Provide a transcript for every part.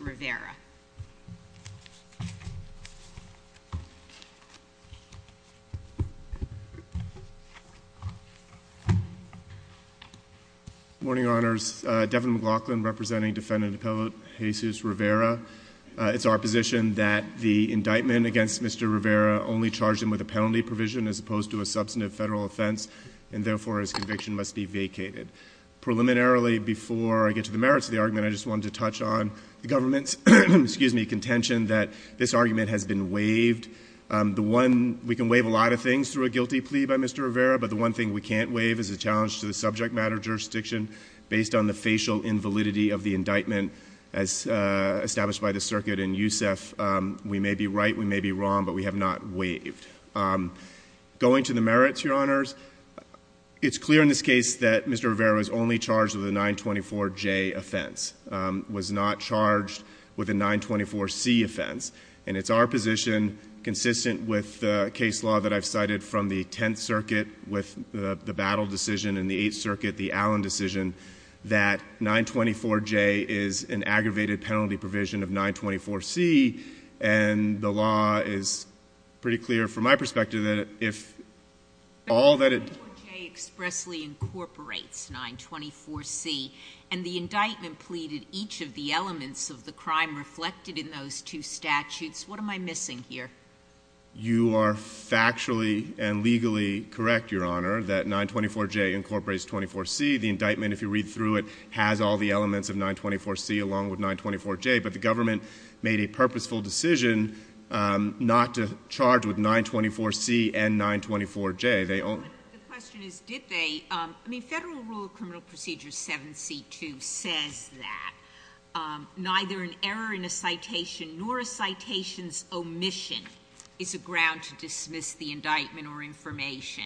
Rivera. Morning, Honors. Devin McLaughlin, representing defendant appellate Jesus Rivera. It's our position that the indictment against Mr. Rivera only charged him with a penalty provision as opposed to a substantive federal offense and therefore his conviction must be vacated. Preliminarily, before I get to the merits of the argument, I just wanted to touch on the government's contention that this argument has been waived. We can waive a lot of things through a guilty plea by Mr. Rivera, but the one thing we can't waive is a challenge to the subject matter jurisdiction based on the facial invalidity of the indictment as established by the circuit. And Yousef, we may be right, we may be wrong, but we have not waived. Going to the merits, Your Honors, it's clear in this case that Mr. Rivera is only charged with a 924J offense, was not charged with a 924C offense. And it's our position, consistent with the case law that I've cited from the Tenth Circuit with the Battle decision and the Eighth Circuit, the Allen decision, that 924J is an aggravated penalty provision of 924C, and the law is pretty clear from my perspective that if all that it... 924J expressly incorporates 924C, and the indictment pleaded each of the elements of the crime reflected in those two statutes. What am I missing here? You are factually and legally correct, Your Honor, that 924J incorporates 24C. The indictment, if you read through it, has all the elements of 924C along with 924J, but the government made a purposeful decision not to charge with 924C and 924J. The question is, did they? I mean, Federal Rule of Criminal Procedure 7C2 says that neither an error in a citation nor a citation's omission is a ground to dismiss the indictment or information.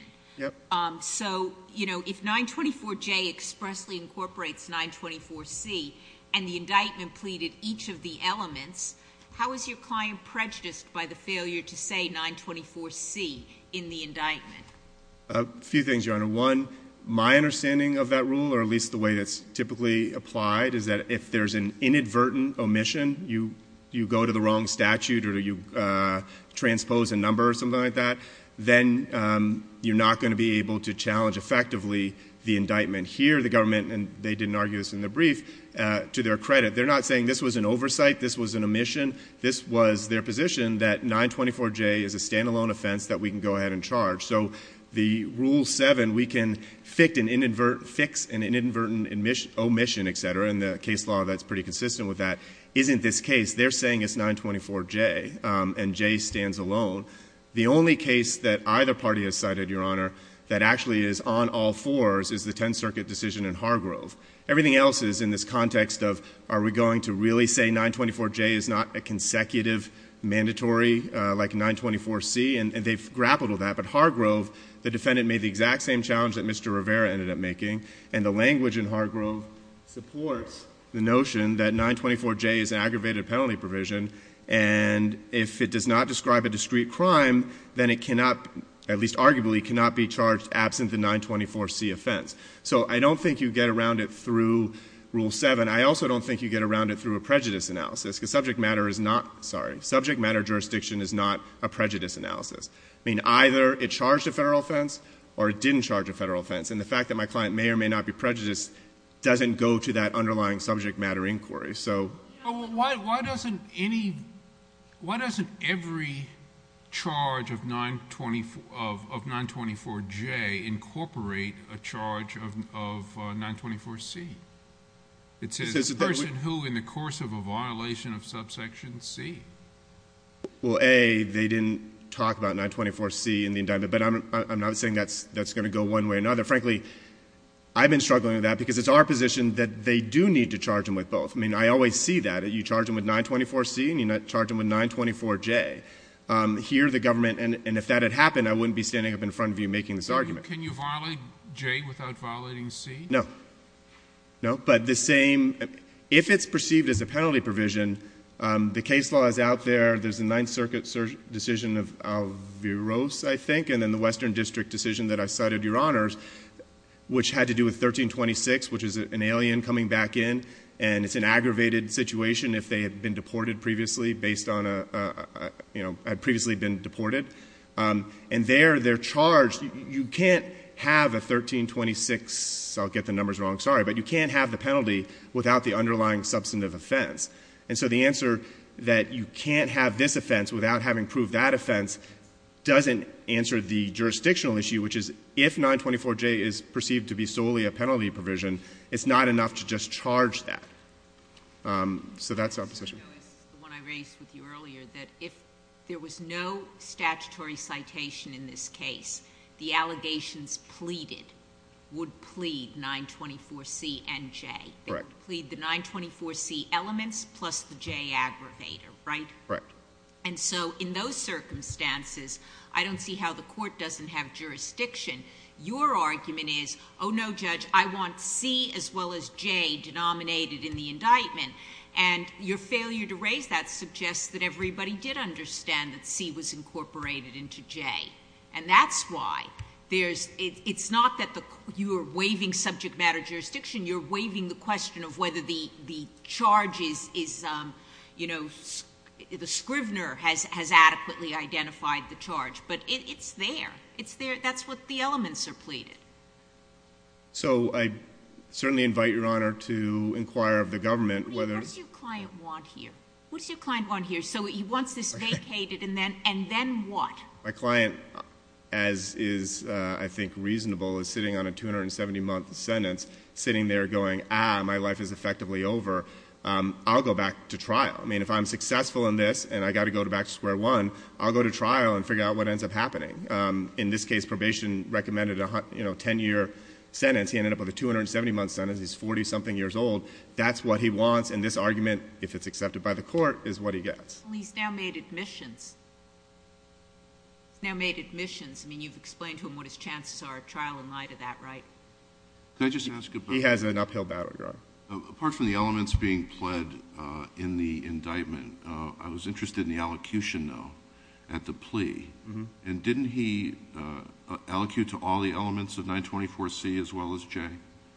So if 924J expressly incorporates 924C and the indictment pleaded each of the elements, how is your client prejudiced by the failure to say 924C in the indictment? A few things, Your Honor. One, my understanding of that rule, or at least the way that's typically applied, is that if there's an inadvertent omission, you go to the wrong statute or you transpose a number or something like that, then you're not going to be able to challenge effectively the indictment. Here, the government, and they didn't argue this in their brief, to their credit, they're not saying this was an oversight, this was an omission, this was their position that 924J is a ground to dismiss. The Rule 7, we can fix an inadvertent omission, et cetera, and the case law that's pretty consistent with that isn't this case. They're saying it's 924J, and J stands alone. The only case that either party has cited, Your Honor, that actually is on all fours is the Tenth Circuit decision in Hargrove. Everything else is in this context of, are we going to really say 924J is not a consecutive mandatory, like the defendant made the exact same challenge that Mr. Rivera ended up making, and the language in Hargrove supports the notion that 924J is an aggravated penalty provision, and if it does not describe a discrete crime, then it cannot, at least arguably, cannot be charged absent the 924C offense. So I don't think you get around it through Rule 7. I also don't think you get around it through a prejudice analysis, because subject matter inquiry doesn't go to that underlying subject matter inquiry. Why doesn't every charge of 924J incorporate a charge of 924C? It's a person who, in the course of a violation of subsection C. Well, A, they didn't talk about 924C in the indictment, but I'm not saying that's going to go one way or another. Frankly, I've been struggling with that, because it's our position that they do need to charge them with both. I mean, I always see that. You charge them with 924C and you charge them with 924J. Here, the government, and if that had happened, I wouldn't be standing up in front of you making this argument. Can you violate J without violating C? No. No. But the same, if it's perceived as a penalty provision, the case laws out there, there's a Ninth Circuit decision of Alvarez, I think, and then the Western District decision that I cited, Your Honors, which had to do with 1326, which is an alien coming back in, and it's an aggravated situation if they had been deported previously, based on a... had previously been deported. And there, they're charged. You can't have a 1326... I'll get the numbers wrong. Sorry. But you can't have the penalty without the underlying substantive offense. And so the answer that you can't have this offense without having proved that offense doesn't answer the jurisdictional issue, which is, if 924J is perceived to be solely a penalty provision, it's not enough to just charge that. So that's our position. I know it's the one I raised with you earlier, that if there was no statutory citation in this case, the allegations pleaded would plead 924C and J. They would plead the 924C elements plus the J aggravator, right? Right. And so in those circumstances, I don't see how the Court doesn't have jurisdiction. Your argument is, oh, no, Judge, I want C as well as J denominated in the indictment. And your failure to raise that suggests that everybody did understand that C was incorporated into J. And that's why there's... it's not that you are waiving subject matter jurisdiction. You're waiving the question of whether the charge is, you know, the scrivener has adequately identified the charge. But it's there. It's there. That's what the elements are pleaded. So I certainly invite Your Honor to inquire of the government whether... I mean, what does your client want here? What does your client want here? So he wants this vacated, and then what? My client, as is, I think, reasonable, is sitting on a 270-month sentence sitting there going, ah, my life is effectively over. I'll go back to trial. I mean, if I'm successful in this and I've got to go back to square one, I'll go to trial and figure out what ends up happening. In this case, probation recommended a 10-year sentence. He ended up with a 270-month sentence. He's 40-something years old. That's what he wants, and this argument, if it's accepted by the Court, is what he gets. Well, he's now made admissions. He's now made admissions. I mean, you've explained to him what his chances are at trial in light of that, right? Can I just ask about... He has an uphill battle to go. Apart from the elements being pled in the indictment, I was interested in the allocution, though, at the plea. And didn't he allocate to all the elements of 924C as well as J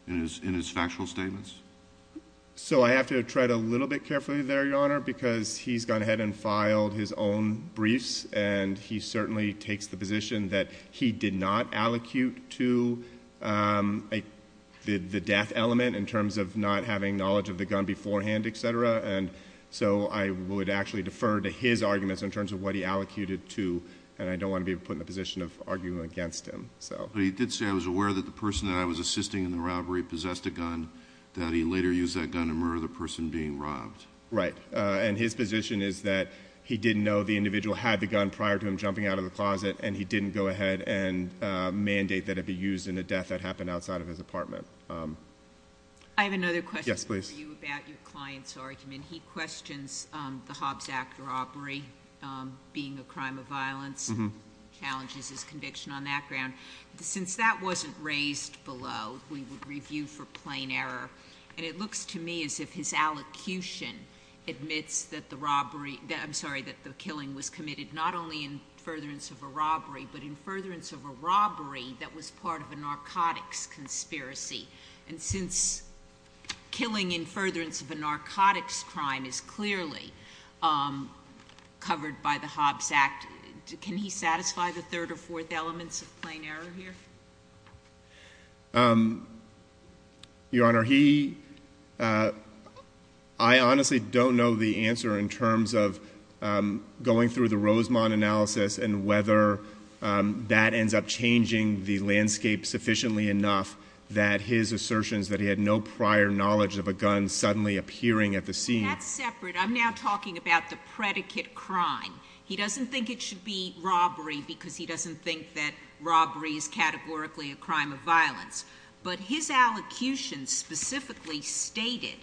in his factual statements? So I have to tread a little bit carefully there, Your Honor, because he's gone ahead and filed his own briefs, and he certainly takes the position that he did not allocate to the death element in terms of not having knowledge of the gun beforehand, et cetera. And so I would actually defer to his arguments in terms of what he allocated to, and I don't want to be put in the position of arguing against him. But he did say, I was aware that the person that I was assisting in the robbery possessed a gun, that he later used that gun to murder the person being robbed. Right. And his position is that he didn't know the individual had the gun prior to him jumping out of the closet, and he didn't go ahead and mandate that it be used in a death that happened outside of his apartment. I have another question for you about your client's argument. He questions the Hobbs Act robbery being a crime of violence, and challenges his conviction on that ground. Since that wasn't raised below, we would review for plain error. And it looks to me as if his allocution admits that the robbery, I'm sorry, that the killing was committed not only in furtherance of a robbery, but in furtherance of a robbery that was part of a narcotics conspiracy. And since killing in furtherance of a narcotics crime is clearly covered by the Hobbs Act, can he satisfy the third or fourth elements of plain error here? Your Honor, he, I honestly don't know the answer in terms of going through the Rosemont analysis and whether that ends up changing the landscape sufficiently enough that his assertions that he had no prior knowledge of a gun suddenly appearing at the scene. That's separate. I'm now talking about the predicate crime. He doesn't think it should be robbery because he doesn't think that robbery is categorically a crime of violence. But his allocution specifically stated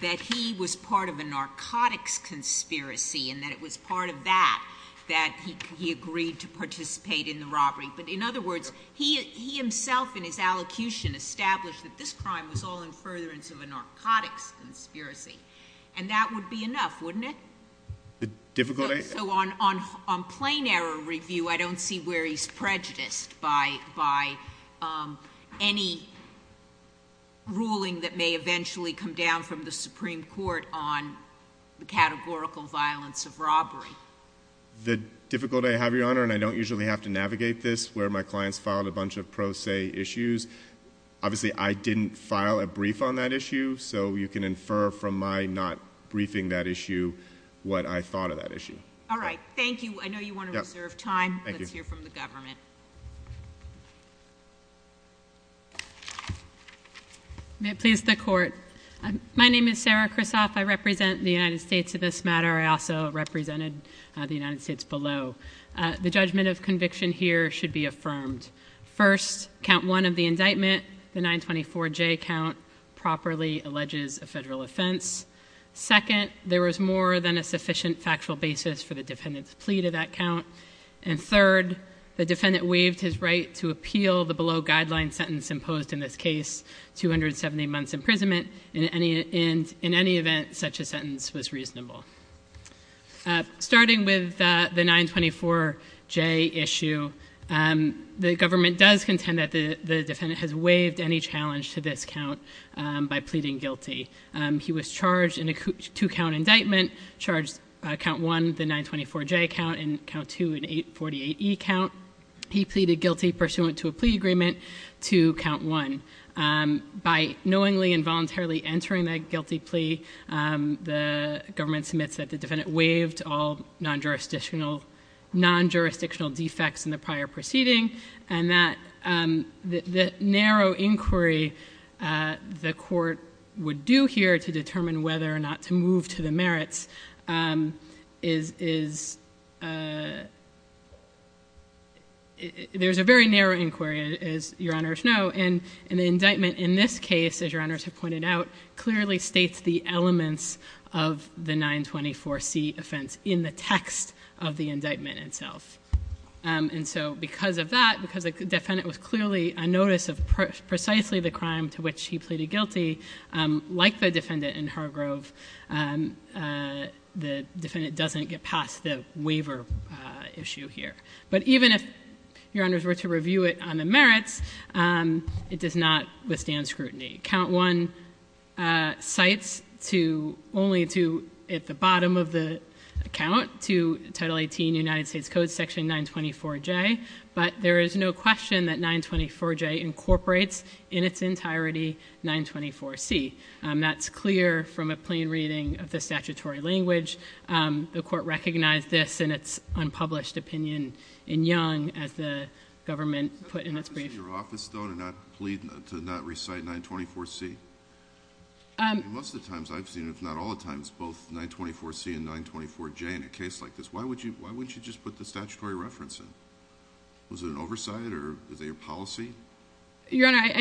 that he was part of a narcotics conspiracy and that it was part of that that he agreed to participate in the robbery. But in other words, he himself in his allocution established that this crime was all in furtherance of a narcotics conspiracy. And that would be enough, wouldn't it? So on plain error review, I don't see where he's prejudiced by any ruling that may eventually come down from the Supreme Court on the categorical violence of robbery. The difficulty I have, Your Honor, and I don't usually have to navigate this, where my clients filed a bunch of pro se issues. Obviously, I didn't file a brief on that issue. So you can infer from my not briefing that issue what I thought of that issue. All right. Thank you. I know you want to reserve time. Let's hear from the government. May it please the Court. My name is Sarah Krisoff. I represent the United States in this matter. I also represented the United States below. The judgment of conviction here should be affirmed. First, count one of the indictment, the 924J count, properly alleges a federal offense. Second, there was more than a sufficient factual basis for the defendant's plea to that count. And third, the defendant waived his right to appeal the below guideline sentence imposed in this case, 270 months imprisonment, in any event such a sentence was reasonable. Starting with the 924J issue, the government does contend that the defendant has waived any challenge to this count by pleading guilty. He was charged in a two-count indictment, charged count one, the 924J count, and count two, an 848E count. He pleaded guilty pursuant to a plea agreement to count one. By knowingly and voluntarily entering that guilty plea, the government submits that the defendant waived all non-jurisdictional defects in the prior proceeding, and that the narrow inquiry the court would do here to determine whether or not to move to the merits, is, there's a very narrow inquiry, as your honors know, and the indictment in this case, as your honors have pointed out, clearly states the elements of the 924C offense in the text of the indictment itself. And so because of that, because the defendant was clearly on notice of precisely the crime to which he pleaded guilty, like the defendant in Hargrove, the defendant doesn't get past the waiver issue here. But even if your honors were to review it on the merits, it does not withstand scrutiny. Count one cites only to, at the bottom of the count, to Title 18 United States Code Section 924J, but there is no question that 924J incorporates, in its entirety, 924C. That's clear from a plain reading of the statutory language. The court recognized this in its unpublished opinion in Young as the government put in its brief. Your Honor,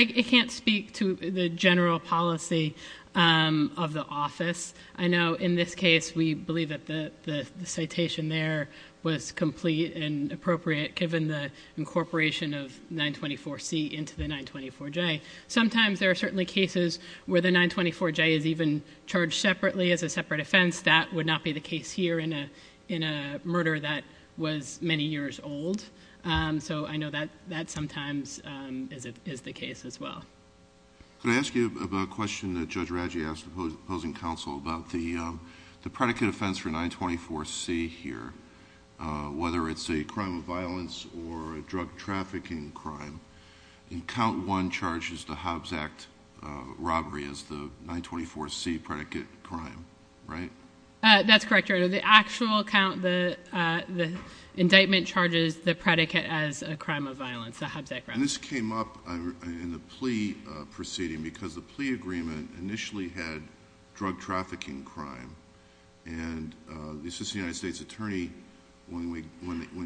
I can't speak to the general policy of the office. I know in this case we believe that the citation there was complete and appropriate given the incorporation of 924C into the 924J. Sometimes there are certainly cases where the 924J is even charged separately as a separate offense. That would not be the case here in a murder that was many years old. So I know that sometimes is the case as well. Could I ask you about a question that Judge Raggi asked the opposing counsel about the predicate offense for 924C here, whether it's a crime of violence or a drug trafficking crime? Count one charges the Hobbs Act robbery as the 924C predicate crime, right? That's correct, Your Honor. The actual count, the indictment charges the predicate as a crime of violence, the Hobbs Act robbery. This came up in the plea proceeding because the plea agreement initially had drug trafficking crime, and the assistant United States attorney, when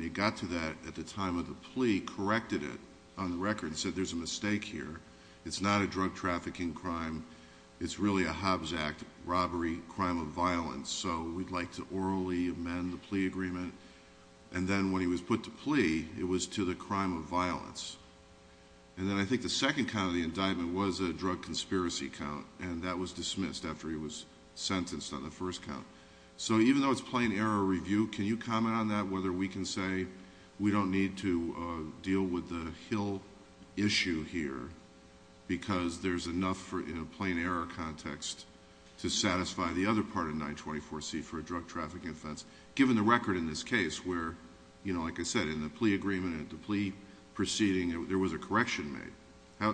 he got to that at the time of the plea, corrected it on the record and said there's a mistake here. It's not a drug trafficking crime. It's really a Hobbs Act robbery crime of violence, so we'd like to orally amend the plea agreement. And then when he was put to plea, it was to the crime of violence. And then I think the second count of the indictment was a drug conspiracy count, and that was dismissed after he was sentenced on the first count. So even though it's plain error review, can you comment on that, whether we can say we don't need to deal with the Hill issue here because there's enough in a plain error context to satisfy the other part of 924C for a drug trafficking offense, given the record in this case where, like I said, in the plea agreement and the plea proceeding, there was a correction made. How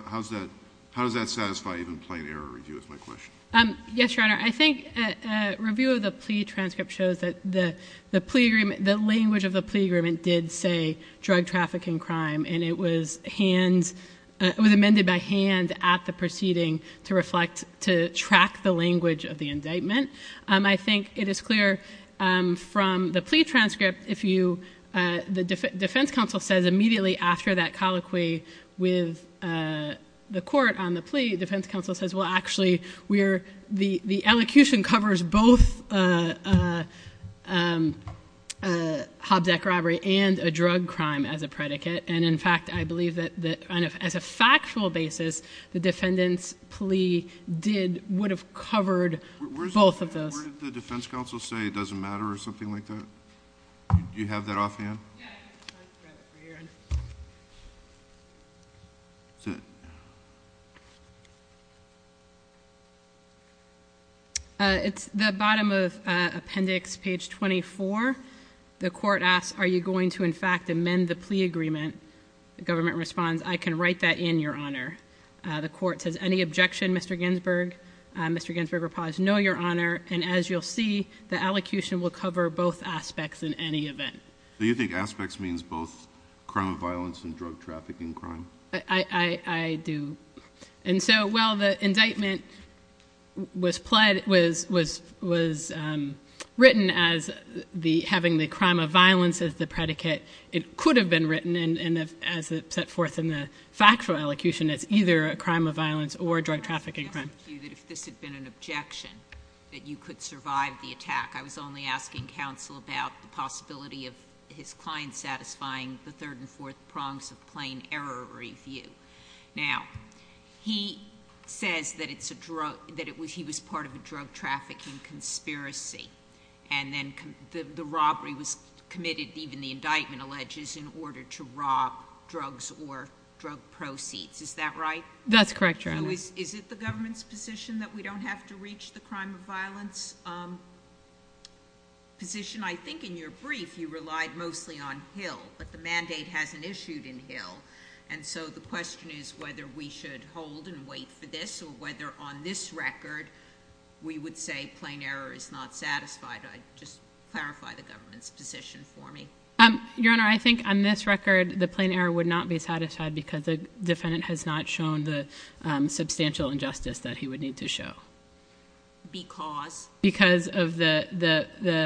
does that satisfy even plain error review is my question. Yes, Your Honor. I think a review of the plea transcript shows that the language of the plea agreement did say drug trafficking crime, and it was amended by hand at the proceeding to reflect, to track the language of the indictment. I think it is clear from the plea transcript, the defense counsel says immediately after that colloquy with the court on the plea, defense counsel says, well, actually, the elocution covers both Hobzek robbery and a drug crime as a predicate. And in fact, I believe that as a factual basis, the defendant's plea would have covered both of those. Where did the defense counsel say it doesn't matter or something like that? Do you have that offhand? Yeah. It's the bottom of appendix, page 24. The court asks, are you going to, in fact, amend the plea agreement? The government responds, I can write that in your honor. The court says, any objection, Mr. Ginsburg? Mr. Ginsburg replies, no, Your Honor. And as you'll see, the allocution will cover both aspects in any event. Do you think aspects means both crime of violence and drug trafficking crime? I do. And so while the indictment was written as having the crime of violence as the predicate, it could have been written as set forth in the factual elocution as either a crime of violence or a drug trafficking crime. If this had been an objection, that you could survive the attack, I was only asking counsel about the possibility of his client satisfying the third and fourth prongs of plain error review. Now, he says that he was part of a drug trafficking conspiracy, and then the robbery was committed, even the indictment alleges, in order to rob drugs or drug proceeds. Is that right? That's correct, Your Honor. So is it the government's position that we don't have to reach the crime of violence position? I think in your brief, you relied mostly on Hill, but the mandate hasn't issued in Hill. And so the question is whether we should hold and wait for this or whether on this record, we would say plain error is not satisfied. Just clarify the government's position for me. Your Honor, I think on this record, the plain error would not be satisfied because the defendant has not shown the substantial injustice that he would need to show. Because? Because of the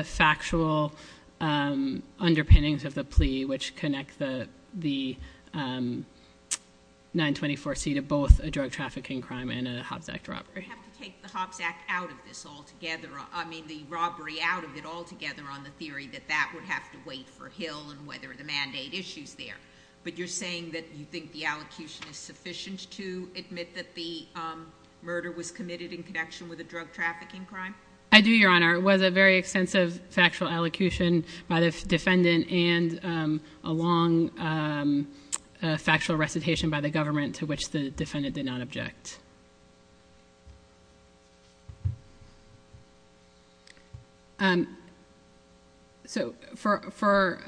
factual underpinnings of the plea, which connect the 924C to both a drug trafficking crime and a Hobbs Act robbery. You have to take the Hobbs Act out of this altogether, I mean the robbery out of it altogether, on the theory that that would have to wait for Hill and whether the mandate issues there. But you're saying that you think the allocution is sufficient to admit that the murder was committed in connection with a drug trafficking crime? I do, Your Honor. It was a very extensive factual allocution by the defendant and a long factual recitation by the government to which the defendant did not object. So for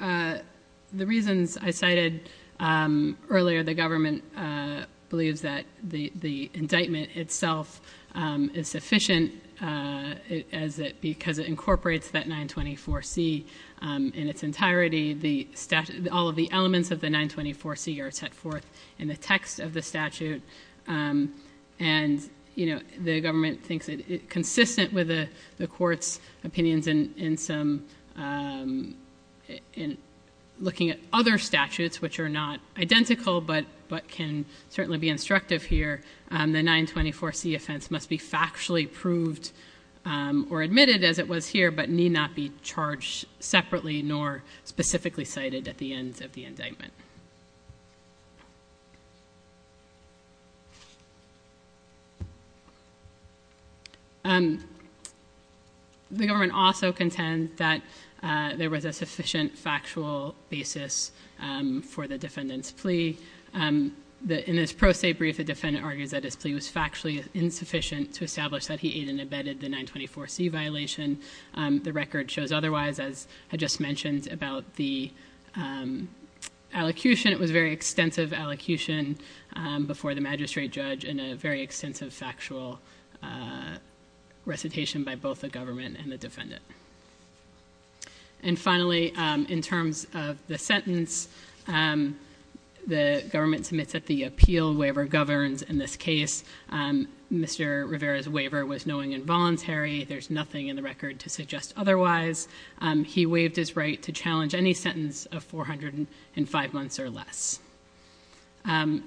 the reasons I cited earlier, the government believes that the indictment itself is sufficient because it incorporates that 924C in its entirety. All of the elements of the 924C are set forth in the text of the statute. And the government thinks it's consistent with the court's opinions in looking at other statutes which are not identical, but can certainly be instructive here. The 924C offense must be factually proved or admitted, as it was here, but need not be charged separately nor specifically cited at the ends of the indictment. The government also contends that there was a sufficient factual basis for the defendant's plea. In this pro se brief, the defendant argues that his plea was factually insufficient to establish that he ate and abetted the 924C violation. The record shows otherwise, as I just mentioned about the allocution. It was a very extensive allocution before the magistrate judge and a very extensive factual recitation by both the government and the defendant. And finally, in terms of the sentence, the government submits that the appeal waiver governs in this case. Mr. Rivera's waiver was knowing and voluntary. There's nothing in the record to suggest otherwise. He waived his right to challenge any sentence of 405 months or less. The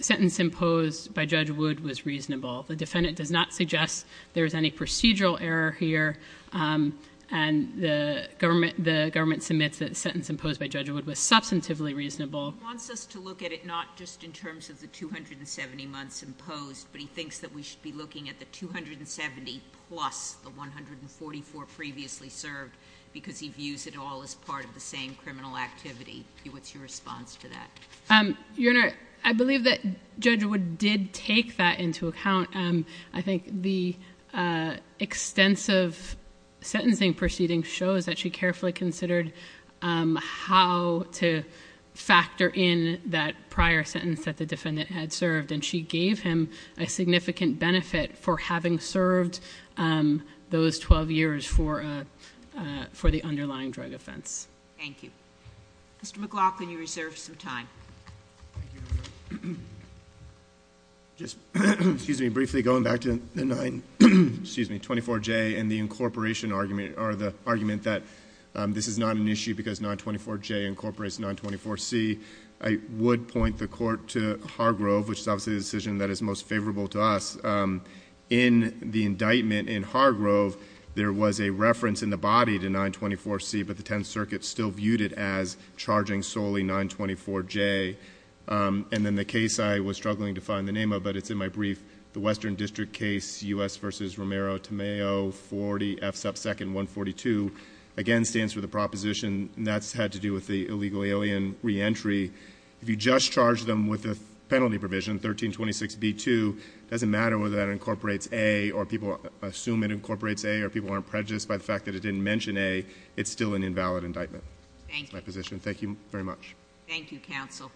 sentence imposed by Judge Wood was reasonable. The defendant does not suggest there is any procedural error here. And the government submits that the sentence imposed by Judge Wood was substantively reasonable. It's just in terms of the 270 months imposed, but he thinks that we should be looking at the 270 plus the 144 previously served because he views it all as part of the same criminal activity. What's your response to that? Your Honor, I believe that Judge Wood did take that into account. I think the extensive sentencing proceeding shows that she carefully considered how to factor in that prior sentence that the defendant had served, and she gave him a significant benefit for having served those 12 years for the underlying drug offense. Thank you. Mr. McLaughlin, you reserved some time. Thank you, Your Honor. Just briefly going back to the 24J and the incorporation argument, or the argument that this is not an issue because 924J incorporates 924C, I would point the Court to Hargrove, which is obviously the decision that is most favorable to us. In the indictment in Hargrove, there was a reference in the body to 924C, but the Tenth Circuit still viewed it as charging solely 924J. And then the case I was struggling to find the name of, but it's in my brief, the Western District case, U.S. v. Romero-Tamao, 40F sub 2nd, 142, again stands for the proposition, and that's had to do with the illegal alien reentry. If you just charge them with a penalty provision, 1326B2, it doesn't matter whether that incorporates A or people assume it incorporates A or people aren't prejudiced by the fact that it didn't mention A, it's still an invalid indictment. Thank you. That's my position. Thank you very much. Thank you, counsel.